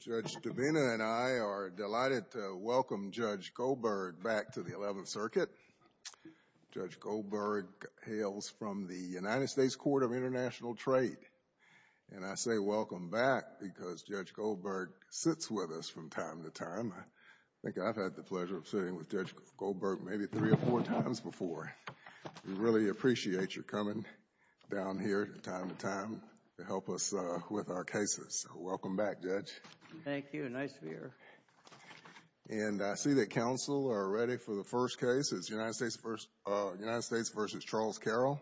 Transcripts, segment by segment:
Judge Devena and I are delighted to welcome Judge Goldberg back to the 11th Circuit. Judge Goldberg hails from the United States Court of International Trade. And I say welcome back because Judge Goldberg sits with us from time to time. I think I've had the pleasure of sitting with Judge Goldberg maybe three or four times before. We really appreciate your coming down here from time to time to help us with our cases. Welcome back, Judge. Thank you. Nice to be here. And I see that counsel are ready for the first case. It's United States v. Charles Carroll.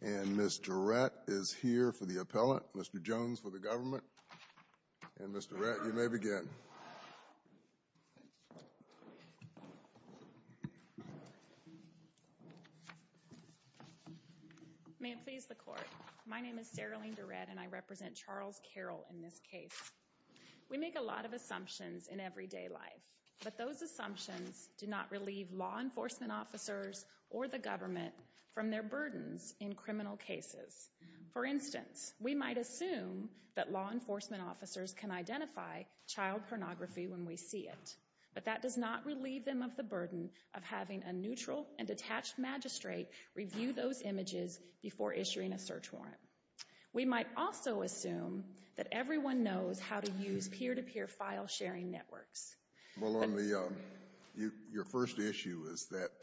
And Mr. Rett is here for the appellant. Mr. Jones for the government. And Mr. Rett, you may begin. May it please the court. My name is Seralene DeRett and I represent Charles Carroll in this case. We make a lot of assumptions in everyday life. But those assumptions do not relieve law enforcement officers or the government from their burdens in criminal cases. For instance, we might assume that law enforcement officers can identify child pornography when we see it. But that does not relieve them of the burden of having a neutral and detached magistrate review those images before issuing a search warrant. We might also assume that everyone knows how to use peer-to-peer file-sharing networks. Well, your first issue is that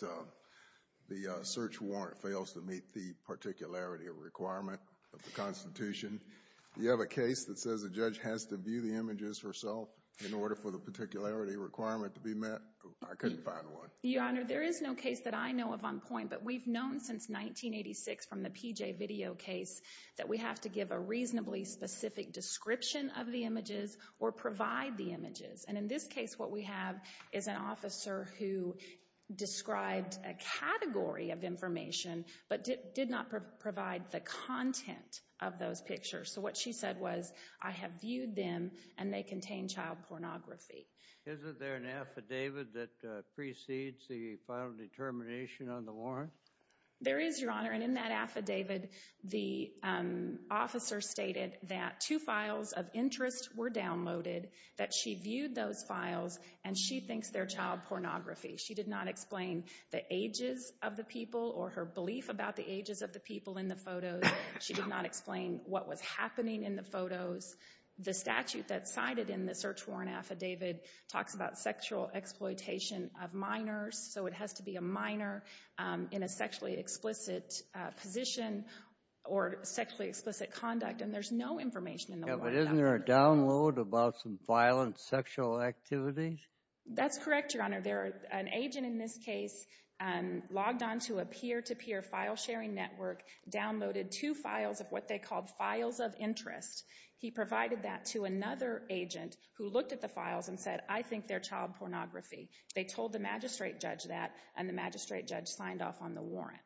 the search warrant fails to meet the particularity requirement of the Constitution. You have a case that says a judge has to view the images herself in order for the particularity requirement to be met. I couldn't find one. Your Honor, there is no case that I know of on point, but we've known since 1986 from the PJ video case that we have to give a reasonably specific description of the images or provide the images. And in this case, what we have is an officer who described a category of information but did not provide the content of those pictures. So what she said was, I have viewed them and they contain child pornography. Isn't there an affidavit that precedes the final determination on the warrant? There is, Your Honor, and in that affidavit, the officer stated that two files of interest were downloaded, that she viewed those files, and she thinks they're child pornography. She did not explain the ages of the people or her belief about the ages of the people in the photos. She did not explain what was happening in the photos. The statute that's cited in the search warrant affidavit talks about sexual exploitation of minors, so it has to be a minor in a sexually explicit position or sexually explicit conduct, and there's no information in the warrant. Isn't there a download about some violent sexual activities? That's correct, Your Honor. There are an agent in this case logged onto a peer-to-peer file sharing network, downloaded two files of what they called files of interest. He provided that to another agent who looked at the files and said, I think they're child pornography. They told the magistrate judge that, and the magistrate judge signed off on the warrant.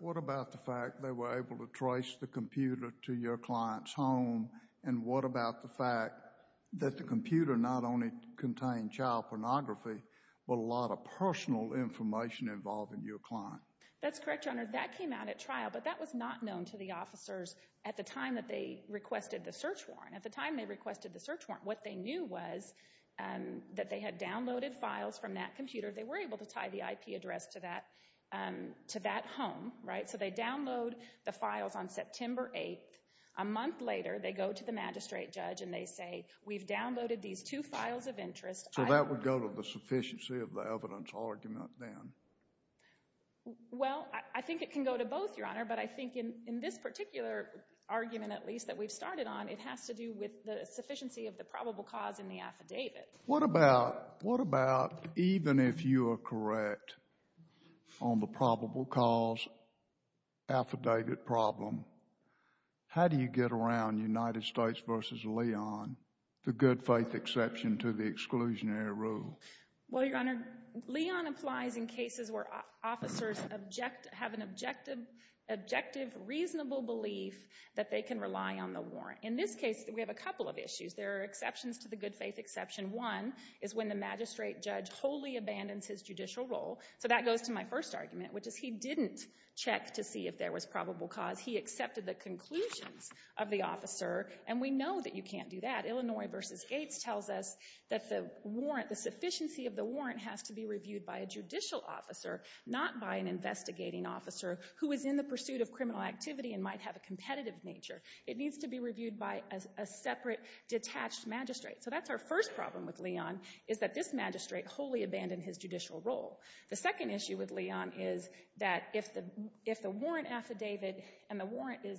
What about the fact they were able to trace the computer to your client's home, and what about the fact that the computer not only contained child pornography, but a lot of personal information involving your client? That's correct, Your Honor. That came out at trial, but that was not known to the officers at the time that they requested the search warrant. At the time they requested the search warrant, what they knew was that they had downloaded files from that computer. They were able to tie the IP address to that home, right? So they download the files on September 8th. A month later, they go to the magistrate judge and they say, we've downloaded these two files of interest. So that would go to the sufficiency of the evidence argument then? Well, I think it can go to both, Your Honor, but I think in this particular argument, at least, that we've started on, it has to do with the sufficiency of the probable cause in the affidavit. What about, even if you are correct on the probable cause affidavit problem, how do you get around United States v. Leon, the good faith exception to the exclusionary rule? Well, Your Honor, Leon applies in cases where officers object, have an objective, reasonable belief that they can rely on the warrant. In this case, we have a couple of issues. There are exceptions to the good faith exception. One is when the magistrate judge wholly abandons his judicial role. So that goes to my first argument, which is he didn't check to see if there was probable cause. He accepted the conclusions of the officer. And we know that you can't do that. Illinois v. Gates tells us that the warrant, the sufficiency of the warrant has to be reviewed by a judicial officer, not by an investigating officer who is in the pursuit of criminal activity and might have a competitive nature. It needs to be reviewed by a separate, detached magistrate. So that's our first problem with Leon, is that this magistrate wholly abandoned his judicial role. The second issue with Leon is that if the warrant affidavit and the warrant is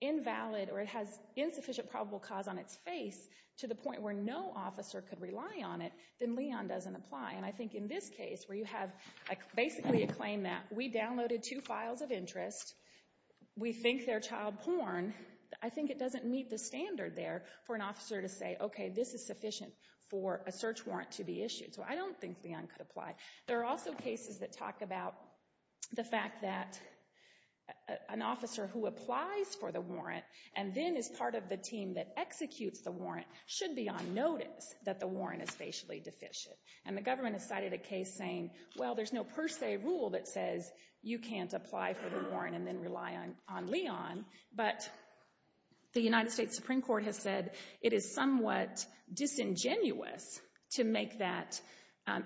invalid or it has insufficient probable cause on its face to the point where no officer could rely on it, then Leon doesn't apply. And I think in this case, where you have basically a claim that we downloaded two files of interest, we think they're child porn, I think it doesn't meet the standard there for an officer to say, okay, this is sufficient for a search warrant to be issued. So I don't think Leon could apply. There are also cases that talk about the fact that an officer who applies for the warrant and then is part of the team that executes the warrant should be on notice that the warrant is facially deficient. And the government has cited a case saying, well, there's no per se rule that says you can't apply for the warrant and then rely on Leon. But the United States Supreme Court has said it is somewhat disingenuous to make that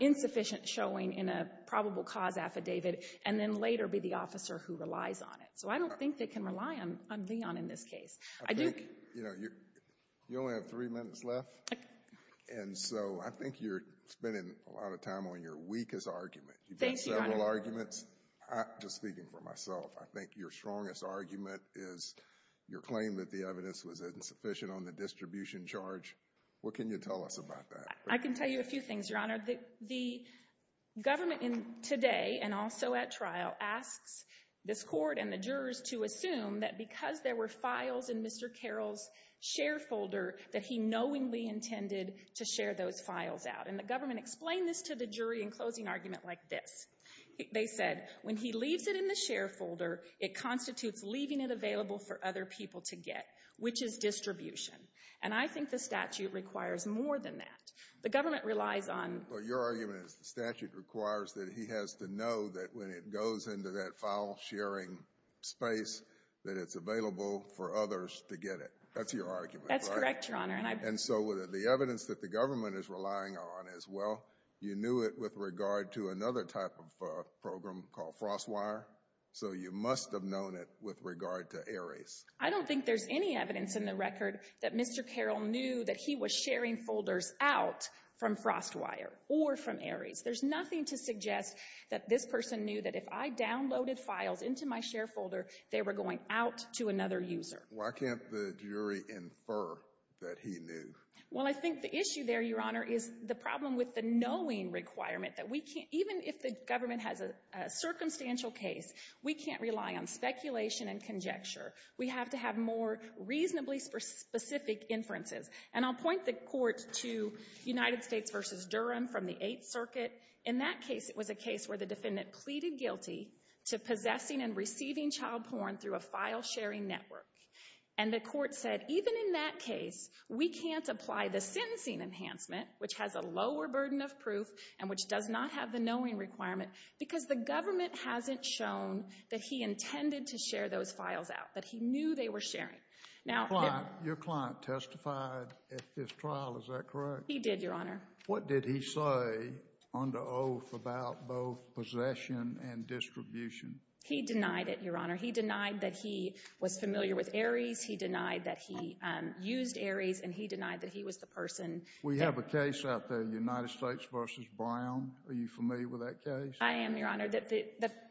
insufficient showing in a probable cause affidavit and then later be the officer who relies on it. So I don't think they can rely on Leon in this case. I think, you know, you only have three minutes left. And so I think you're spending a lot of time on your weakest argument. You've got several arguments. Just speaking for myself, I think your strongest argument is your claim that the evidence was insufficient on the distribution charge. What can you tell us about that? I can tell you a few things, Your Honor. The government today and also at trial asks this court and the jurors to assume that because there were files in Mr. Carroll's share folder that he knowingly intended to share those files out. And the government explained this to the jury in closing argument like this. They said, when he leaves it in the share folder, it constitutes leaving it available for other people to get, which is distribution. And I think the statute requires more than that. The government relies on — But your argument is the statute requires that he has to know that when it goes into that file-sharing space, that it's available for others to get it. That's your argument, right? That's correct, Your Honor. And so the evidence that the government is relying on is, well, you knew it with regard to another type of program called FrostWire, so you must have known it with regard to Ares. I don't think there's any evidence in the record that Mr. Carroll knew that he was sharing folders out from FrostWire or from Ares. There's nothing to suggest that this person knew that if I downloaded files into my share folder, they were going out to another user. Why can't the jury infer that he knew? Well, I think the issue there, Your Honor, is the problem with the knowing requirement that we can't — even if the government has a circumstantial case, we can't rely on speculation and conjecture. We have to have more reasonably specific inferences. And I'll point the Court to United States v. Durham from the Eighth Circuit. In that case, it was a case where the defendant pleaded guilty to possessing and receiving child porn through a file-sharing network. And the Court said, even in that case, we can't apply the sentencing enhancement, which has a lower burden of proof and which does not have the knowing requirement, because the government hasn't shown that he intended to share those files out, that he knew they were sharing. Your client testified at this trial, is that correct? He did, Your Honor. What did he say under oath about both possession and distribution? He denied it, Your Honor. He denied that he was familiar with Aries. He denied that he used Aries. And he denied that he was the person — We have a case out there, United States v. Brown. Are you familiar with that case? I am, Your Honor.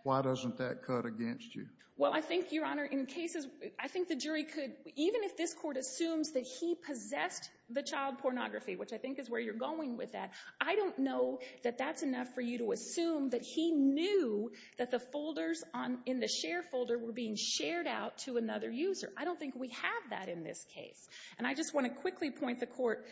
Why doesn't that cut against you? Well, I think, Your Honor, in cases — I think the jury could — even if this Court assumes that he possessed the child pornography, which I think is where you're going with that, I don't know that that's enough for you to assume that he knew that the folders in the share folder were being shared out to another user. I don't think we have that in this case. And I just want to quickly point the Court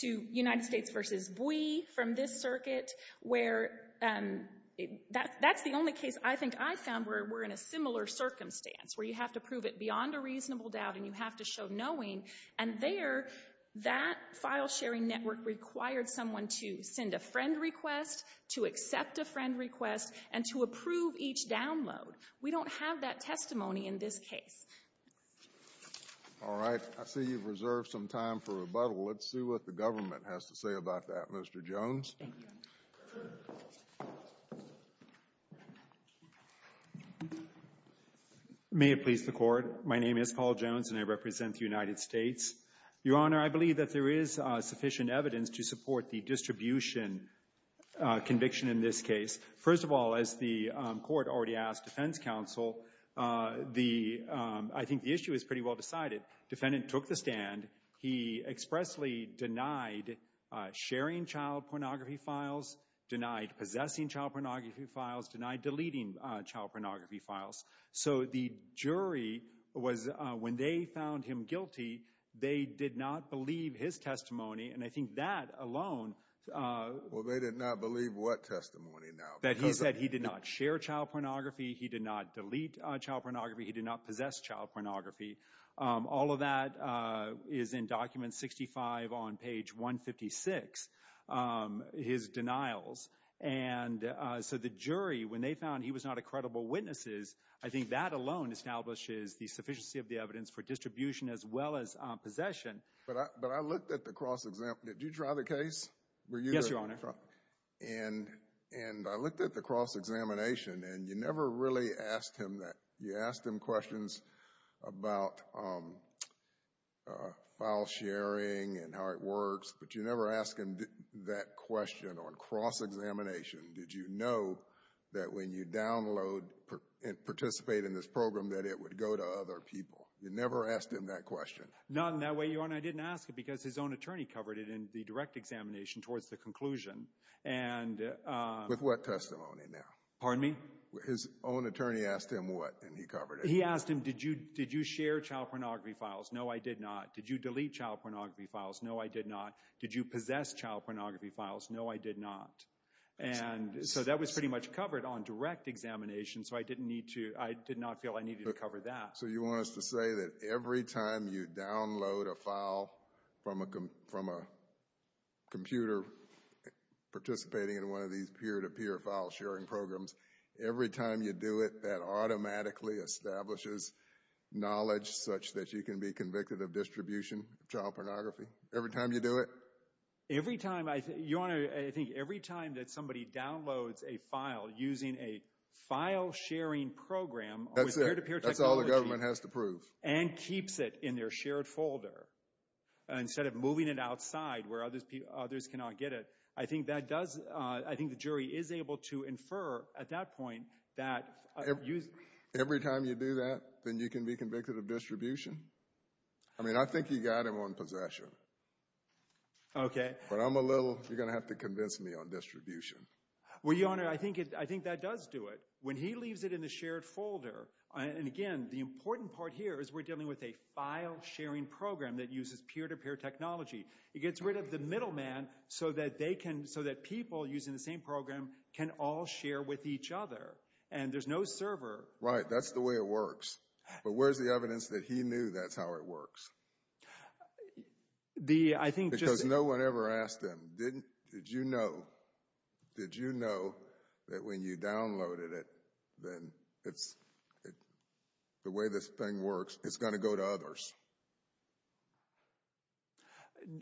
to United States v. Bui from this circuit, where that's the only case I think I found where we're in a similar circumstance, where you have to prove it beyond a reasonable doubt and you have to show knowing. And there, that file-sharing network required someone to send a friend request, to accept a friend request, and to approve each download. We don't have that testimony in this case. All right. I see you've reserved some time for rebuttal. Let's see what the government has to say about that. Mr. Jones. May it please the Court. My name is Paul Jones, and I represent the United States. Your Honor, I believe that there is sufficient evidence to support the distribution conviction in this case. First of all, as the Court already asked Defense Counsel, I think the issue is pretty well decided. Defendant took the stand. He expressly denied sharing child pornography files, denied possessing child pornography files, denied deleting child pornography files. So the jury was, when they found him guilty, they did not believe his testimony. And I think that alone... Well, they did not believe what testimony now? That he said he did not share child pornography, he did not delete child pornography, he did not possess child pornography. All of that is in Document 65 on page 156, his denials. And so the jury, when they found he was not a credible witness, I think that alone establishes the sufficiency of the evidence for distribution as well as possession. But I looked at the cross-exam... Did you try the case? Yes, Your Honor. And I looked at the cross-examination, and you never really asked him that. You asked him questions about file sharing and how it works, but you never asked him that question on cross-examination. Did you know that when you download and participate in this program that it would go to other people? You never asked him that question. Not in that way, Your Honor. I didn't ask it because his own attorney covered it in the direct examination towards the conclusion. With what testimony now? Pardon me? His own attorney asked him what, and he covered it. He asked him, did you share child pornography files? No, I did not. Did you delete child pornography files? No, I did not. Did you possess child pornography files? No, I did not. And so that was pretty much covered on direct examination, so I did not feel I needed to cover that. So you want us to say that every time you download a file from a computer participating in one of these peer-to-peer file sharing programs, every time you do it, that automatically establishes knowledge such that you can be convicted of distribution of child pornography? Every time you do it? Every time, Your Honor, I think every time that somebody downloads a file using a file sharing program with peer-to-peer technology. That's it. That's all the government has to prove. And keeps it in their shared folder, instead of moving it outside where others cannot get it. I think that does, I think the jury is able to infer at that point that... Every time you do that, then you can be convicted of distribution? I mean, I think you got him on possession. Okay. But I'm a little, you're going to have to convince me on distribution. Well, Your Honor, I think that does do it. When he leaves it in the shared folder, and again, the important part here is we're dealing with a file sharing program that uses peer-to-peer technology. It gets rid of the middleman so that they can, so that people using the same program can all share with each other. And there's no server. Right, that's the way it works. But where's the evidence that he knew that's how it works? The, I think just... No one ever asked him, did you know that when you downloaded it, then it's, the way this thing works, it's going to go to others?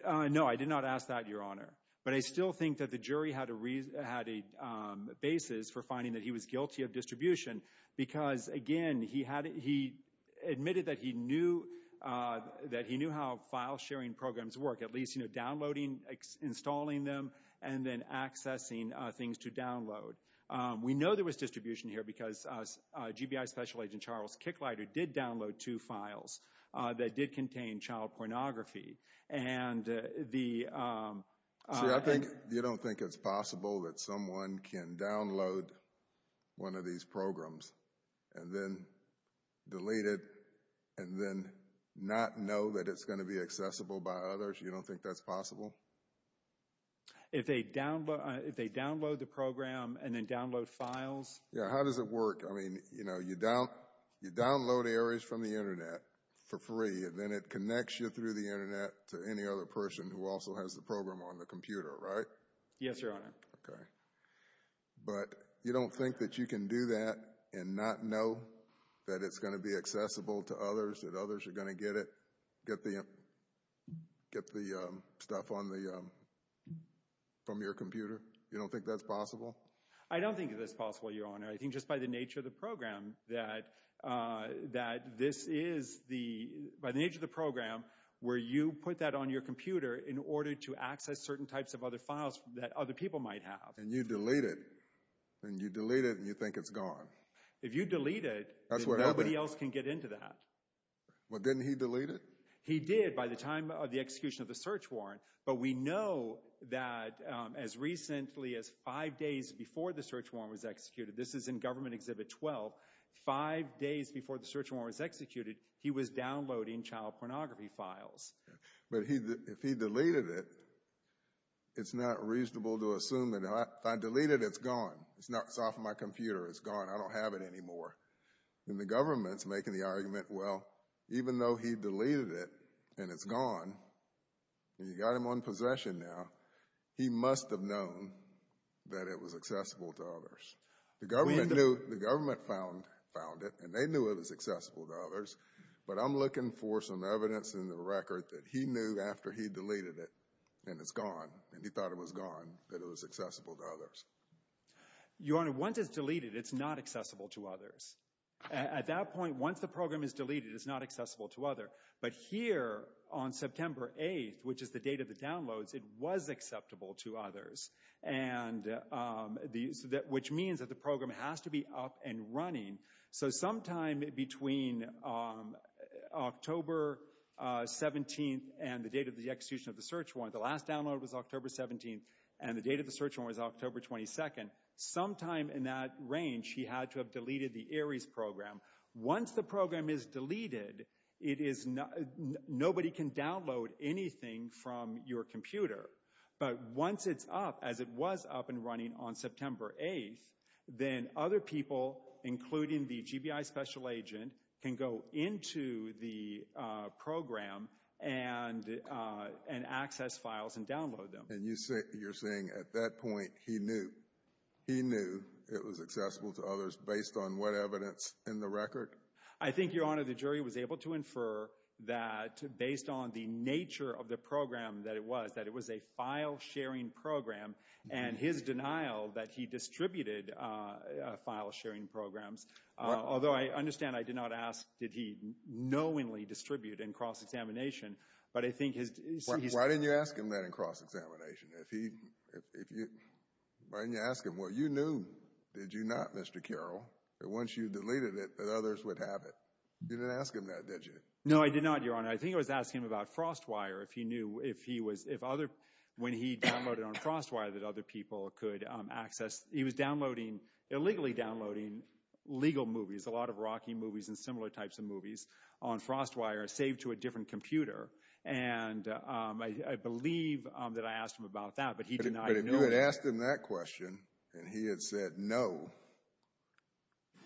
No, I did not ask that, Your Honor. But I still think that the jury had a basis for finding that he was guilty of distribution. Because again, he admitted that he knew how file sharing programs work. At least, you know, downloading, installing them, and then accessing things to download. We know there was distribution here because GBI Special Agent Charles Kicklider did download two files that did contain child pornography. And the... See, I think you don't think it's possible that someone can download one of these programs and then delete it and then not know that it's going to be accessible by others. You don't think that's possible? If they download the program and then download files... Yeah, how does it work? I mean, you know, you download areas from the internet for free and then it connects you through the internet to any other person who also has the program on the computer, right? Yes, Your Honor. Okay. But you don't think that you can do that and not know that it's going to be accessible to others, that others are going to get the stuff from your computer? You don't think that's possible? I don't think that's possible, Your Honor. I think just by the nature of the program that this is the... By the nature of the program where you put that on your computer in order to access certain types of other files that other people might have. And you delete it. And you delete it and you think it's gone. If you delete it, nobody else can get into that. Well, didn't he delete it? He did by the time of the execution of the search warrant. But we know that as recently as five days before the search warrant was executed, this is in Government Exhibit 12, five days before the search warrant was executed, he was downloading child pornography files. But if he deleted it, it's not reasonable to assume that if I delete it, it's gone. It's off my computer. It's gone. I don't have it anymore. And the government's making the argument, well, even though he deleted it and it's gone, and you got him on possession now, he must have known that it was accessible to others. The government found it and they knew it was accessible to others. But I'm looking for some evidence in the record that he knew after he deleted it and it's gone, and he thought it was gone, that it was accessible to others. Your Honor, once it's deleted, it's not accessible to others. At that point, once the program is deleted, it's not accessible to others. But here on September 8th, which is the date of the downloads, it was acceptable to others. Which means that the program has to be up and running. So sometime between October 17th and the date of the execution of the search warrant, the last download was October 17th, and the date of the search warrant was October 22nd. Sometime in that range, he had to have deleted the ARIES program. Once the program is deleted, nobody can download anything from your computer. But once it's up, as it was up and running on September 8th, then other people, including the GBI special agent, can go into the program and access files and download them. You're saying, at that point, he knew it was accessible to others based on what evidence in the record? I think, Your Honor, the jury was able to infer that, based on the nature of the program that it was, that it was a file-sharing program. And his denial that he distributed file-sharing programs, although I understand I did not ask, did he knowingly distribute in cross-examination, but I think his... Why didn't you ask him that in cross-examination? Why didn't you ask him? Well, you knew, did you not, Mr. Carroll, that once you deleted it, that others would have it. You didn't ask him that, did you? No, I did not, Your Honor. I think I was asking him about FrostWire, if he knew if he was, if other, when he downloaded on FrostWire, that other people could access. He was downloading, illegally downloading legal movies, a lot of Rocky movies and similar types of movies on FrostWire, saved to a different computer. And I believe that I asked him about that, but he denied knowing. But if you had asked him that question, and he had said no,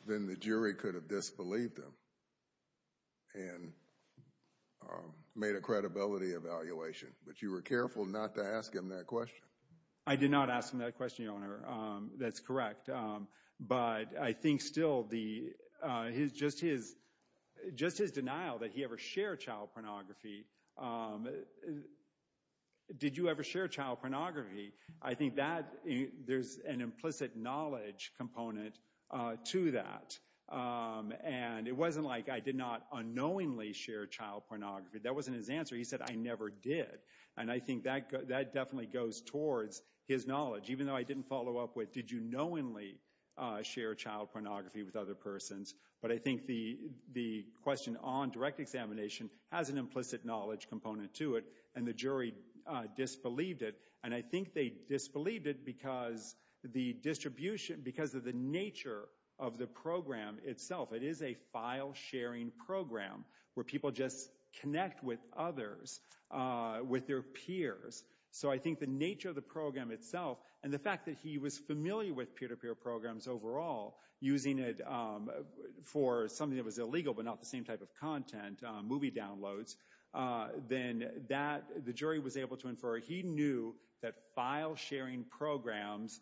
then the jury could have disbelieved him and made a credibility evaluation. But you were careful not to ask him that question. I did not ask him that question, Your Honor. That's correct. But I think still, just his denial that he ever shared child pornography, um, did you ever share child pornography? I think that there's an implicit knowledge component to that. And it wasn't like I did not unknowingly share child pornography. That wasn't his answer. He said, I never did. And I think that definitely goes towards his knowledge, even though I didn't follow up with, did you knowingly share child pornography with other persons? But I think the question on direct examination has an implicit knowledge component to it. And the jury disbelieved it. And I think they disbelieved it because the distribution, because of the nature of the program itself. It is a file sharing program where people just connect with others, with their peers. So I think the nature of the program itself, and the fact that he was familiar with peer-to-peer programs overall, using it for something that was illegal, but not the same type of content, movie downloads, then that, the jury was able to infer he knew that file sharing programs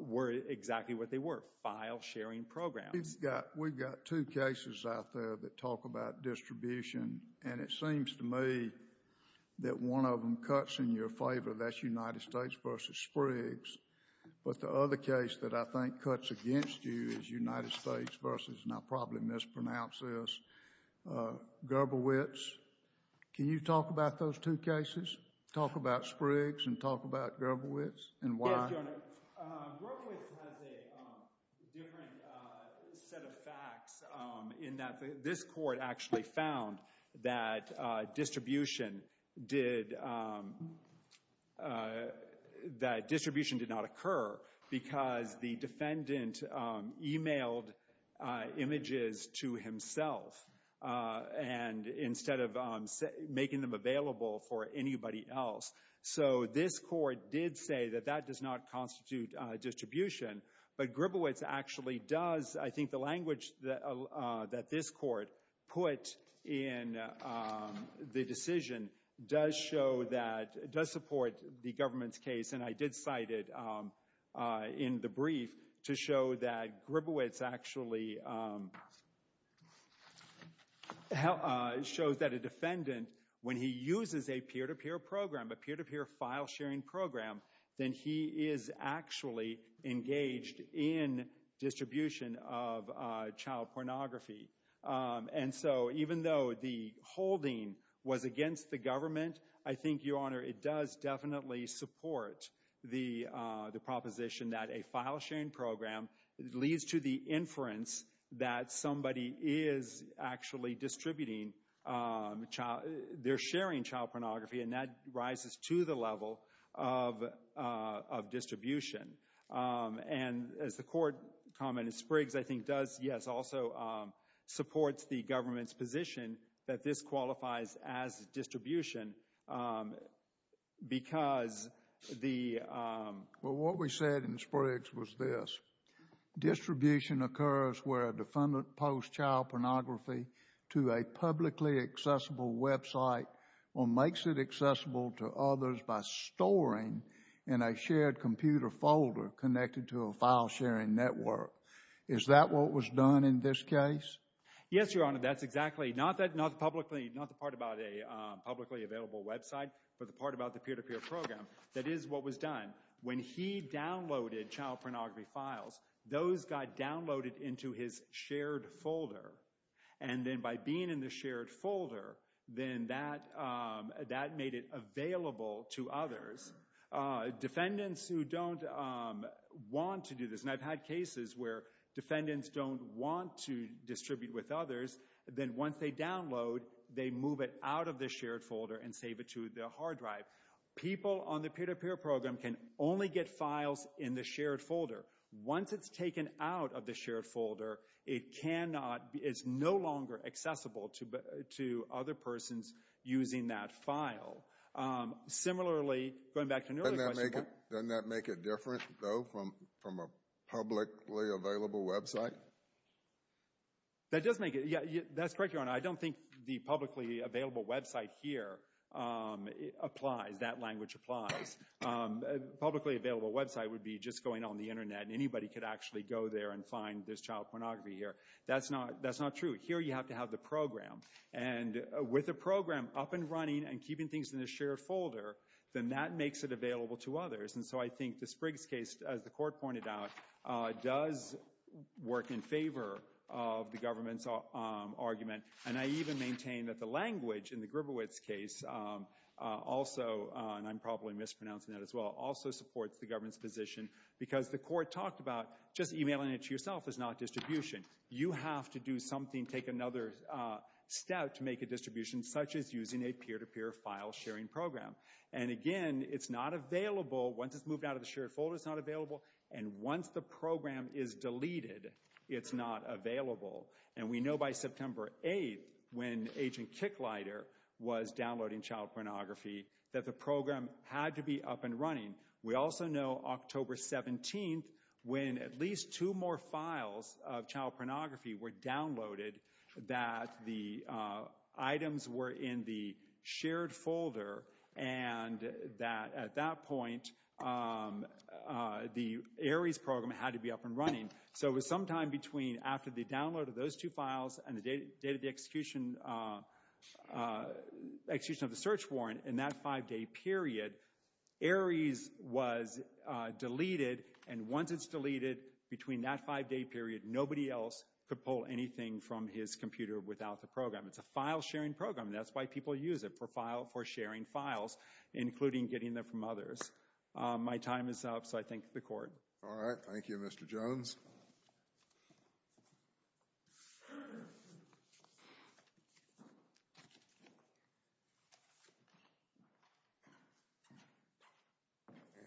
were exactly what they were, file sharing programs. We've got, we've got two cases out there that talk about distribution. And it seems to me that one of them cuts in your favor. That's United States v. Spriggs. But the other case that I think cuts against you is United States v. and I'll probably mispronounce this, Gerberwitz. Can you talk about those two cases? Talk about Spriggs and talk about Gerberwitz and why? Yes, Your Honor. Gerberwitz has a different set of facts in that this court actually found that distribution did, that distribution did not occur because the defendant emailed images to himself. And instead of making them available for anybody else. So this court did say that that does not constitute distribution. But Gerberwitz actually does, I think the language that this court put in the decision does show that, does support the government's case. And I did cite it in the brief to show that Gerberwitz actually shows that a defendant when he uses a peer-to-peer program, a peer-to-peer file sharing program, then he is actually engaged in distribution of child pornography. And so even though the holding was against the government, I think, Your Honor, it does definitely support the proposition that a file sharing program leads to the inference that somebody is actually distributing child, they're sharing child pornography and that rises to the level of distribution. And as the court commented, Spriggs, I think, does, yes, also supports the government's position that this qualifies as distribution because the... Well, what we said in Spriggs was this. Distribution occurs where a defendant posts child pornography to a publicly accessible website or makes it accessible to others by storing in a shared computer folder connected to a file sharing network. Is that what was done in this case? Yes, Your Honor. That's exactly, not the part about a publicly available website, but the part about the peer-to-peer program. That is what was done. When he downloaded child pornography files, those got downloaded into his shared folder. And then by being in the shared folder, then that made it available to others. Defendants who don't want to do this, and I've had cases where defendants don't want to distribute with others, then once they download, they move it out of the shared folder and save it to their hard drive. People on the peer-to-peer program can only get files in the shared folder. Once it's taken out of the shared folder, it's no longer accessible to other persons using that file. Similarly, going back to an earlier question... Doesn't that make it different, though, from a publicly available website? That does make it... Yeah, that's correct, Your Honor. I don't think the publicly available website here applies. That language applies. Publicly available website would be just going on the internet, and anybody could actually go there and find there's child pornography here. That's not true. Here, you have to have the program. And with a program up and running and keeping things in the shared folder, then that makes it available to others. And so I think the Spriggs case, as the Court pointed out, does work in favor of the government's argument. And I even maintain that the language in the Gribowitz case, also, and I'm probably mispronouncing that as well, also supports the government's position, because the Court talked about just emailing it to yourself is not distribution. You have to do something, take another step to make a distribution, such as using a peer-to-peer file sharing program. And again, it's not available... Once it's moved out of the shared folder, it's not available. And once the program is deleted, it's not available. And we know by September 8th, when Agent Kicklighter was downloading child pornography, that the program had to be up and running. We also know October 17th, when at least two more files of child pornography were downloaded, that the items were in the shared folder, and that at that point, the ARIES program had to be up and running. So it was sometime between after the download of those two files and the date of the execution of the search warrant, in that five-day period, ARIES was deleted, and once it's deleted, between that five-day period, nobody else could pull anything from his computer without the program. It's a file-sharing program. That's why people use it, for sharing files, including getting them from others. My time is up, so I thank the Court. All right, thank you, Mr. Jones.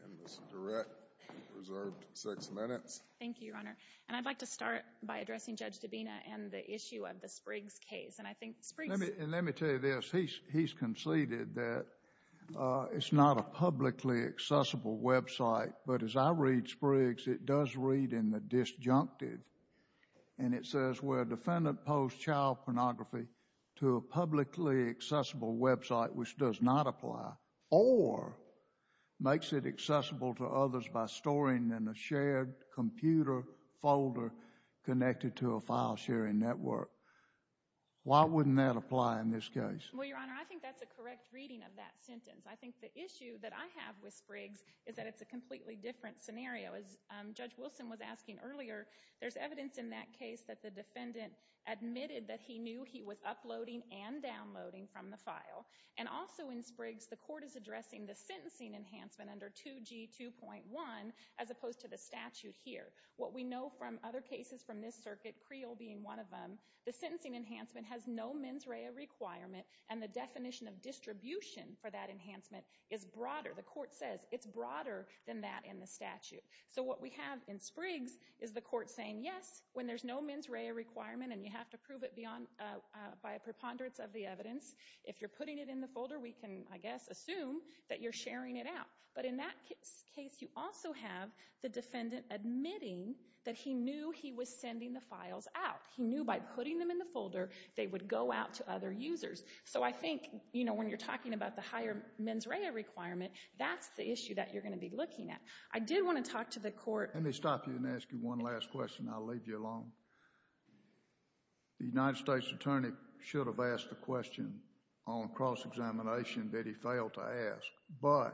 And Ms. Durrett, you're reserved six minutes. Thank you, Your Honor. And I'd like to start by addressing Judge Dabena and the issue of the Spriggs case. And I think Spriggs— And let me tell you this. He's conceded that it's not a publicly accessible website, but as I read Spriggs, it does read in the disjunctive, and it says, where a defendant posed child pornography to a publicly accessible website which does not apply or makes it accessible to others by storing in a shared computer folder connected to a file-sharing network. Why wouldn't that apply in this case? Well, Your Honor, I think that's a correct reading of that sentence. I think the issue that I have with Spriggs is that it's a completely different scenario. As Judge Wilson was asking earlier, there's evidence in that case that the defendant admitted that he knew he was uploading and downloading from the file. And also in Spriggs, the court is addressing the sentencing enhancement under 2G2.1 as opposed to the statute here. What we know from other cases from this circuit, Creel being one of them, the sentencing enhancement has no mens rea requirement, and the definition of distribution for that enhancement is broader. The court says it's broader than that in the statute. So what we have in Spriggs is the court saying, yes, when there's no mens rea requirement and you have to prove it by a preponderance of the evidence, if you're putting it in the folder, we can, I guess, assume that you're sharing it out. But in that case, you also have the defendant admitting that he knew he was sending the files out. He knew by putting them in the folder, they would go out to other users. So I think, you know, when you're talking about the higher mens rea requirement, that's the issue that you're going to be looking at. I did want to talk to the court. Let me stop you and ask you one last question. I'll leave you alone. The United States attorney should have asked the question on cross-examination that he failed to ask. But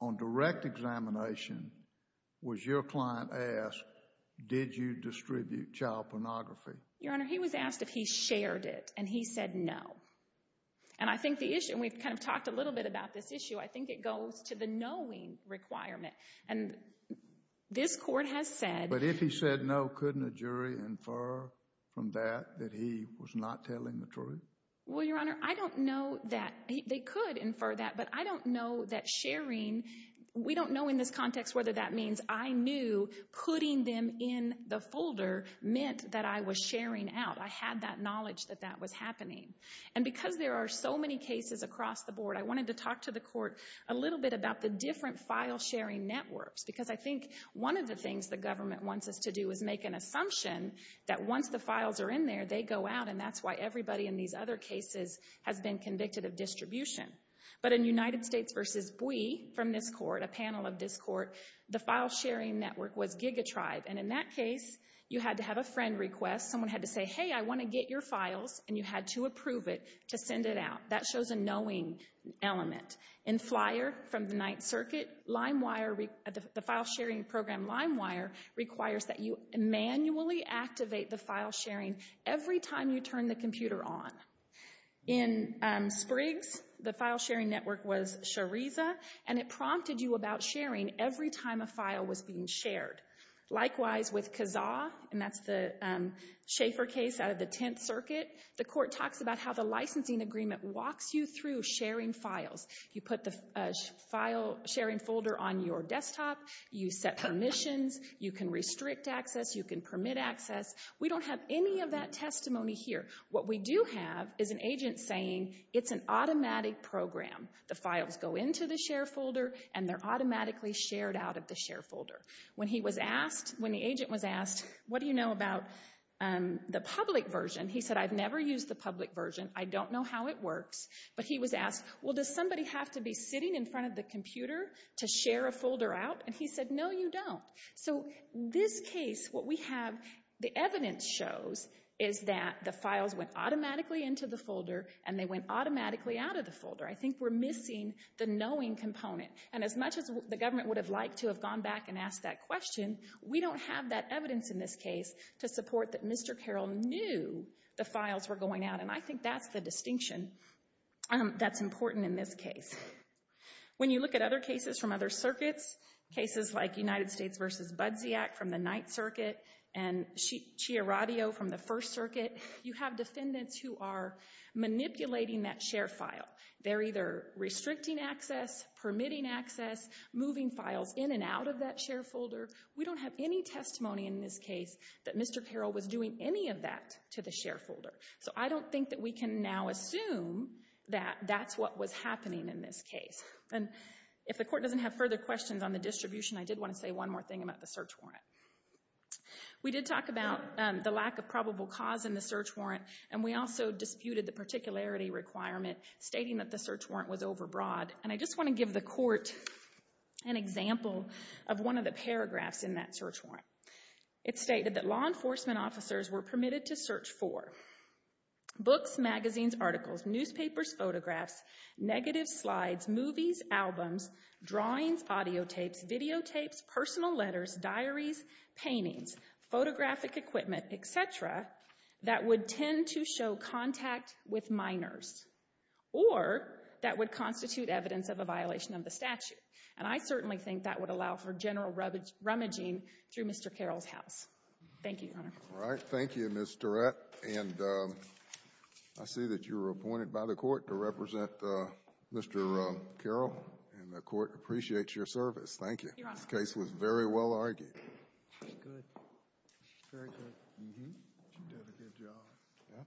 on direct examination, was your client asked, did you distribute child pornography? Your Honor, he was asked if he shared it, and he said no. And I think the issue, and we've kind of talked a little bit about this issue, I think it goes to the knowing requirement. And this court has said... But if he said no, couldn't a jury infer from that that he was not telling the truth? Well, Your Honor, I don't know that they could infer that, but I don't know that sharing, we don't know in this context whether that means I knew putting them in the folder meant that I was sharing out. I had that knowledge that that was happening. And because there are so many cases across the board, I wanted to talk to the court a little bit about the different file-sharing networks. Because I think one of the things the government wants us to do is make an assumption that once the files are in there, they go out. And that's why everybody in these other cases has been convicted of distribution. But in United States v. Bui, from this court, a panel of this court, the file-sharing network was GigaTribe. And in that case, you had to have a friend request. Someone had to say, hey, I want to get your files, and you had to approve it to send it out. That shows a knowing element. In Flyer, from the Ninth Circuit, LimeWire, the file-sharing program LimeWire, requires that you manually activate the file-sharing every time you turn the computer on. In Spriggs, the file-sharing network was Shariza, and it prompted you about sharing every time a file was being shared. Likewise, with Kazaa, and that's the Schaefer case out of the Tenth Circuit, the court talks about how the licensing agreement walks you through sharing files. You put the file-sharing folder on your desktop. You set permissions. You can restrict access. You can permit access. We don't have any of that testimony here. What we do have is an agent saying, it's an automatic program. The files go into the share folder, and they're automatically shared out of the share folder. When he was asked, when the agent was asked, what do you know about the public version? He said, I've never used the public version. I don't know how it works. But he was asked, well, does somebody have to be sitting in front of the computer to share a folder out? And he said, no, you don't. So this case, what we have, the evidence shows is that the files went automatically into the folder, and they went automatically out of the folder. I think we're missing the knowing component. And as much as the government would have liked to have gone back and asked that question, we don't have that evidence in this case to support that Mr. Carroll knew the files were going out. And I think that's the distinction that's important in this case. When you look at other cases from other circuits, cases like United States v. Budziak from the Ninth Circuit, and Chiaradio from the First Circuit, you have defendants who are manipulating that share file. They're either restricting access, permitting access, moving files in and out of that share folder. We don't have any testimony in this case that Mr. Carroll was doing any of that to the share folder. So I don't think that we can now assume that that's what was happening in this case. And if the court doesn't have further questions on the distribution, I did want to say one more thing about the search warrant. We did talk about the lack of probable cause in the search warrant, and we also disputed the particularity requirement stating that the search warrant was overbroad. And I just want to give the court an example of one of the paragraphs in that search warrant. It stated that law enforcement officers were permitted to search for books, magazines, articles, newspapers, photographs, negative slides, movies, albums, drawings, audiotapes, videotapes, personal letters, diaries, paintings, photographic equipment, et cetera, that would tend to show contact with minors or that would constitute evidence of a violation of the statute. And I certainly think that would allow for general rummaging through Mr. Carroll's house. Thank you, Your Honor. All right. Thank you, Ms. Tourette. And I see that you were appointed by the court to represent Mr. Carroll, and the court appreciates your service. Thank you. Your Honor. This case was very well argued. She's good. She's very good. Mm-hmm. She did a good job. Yeah.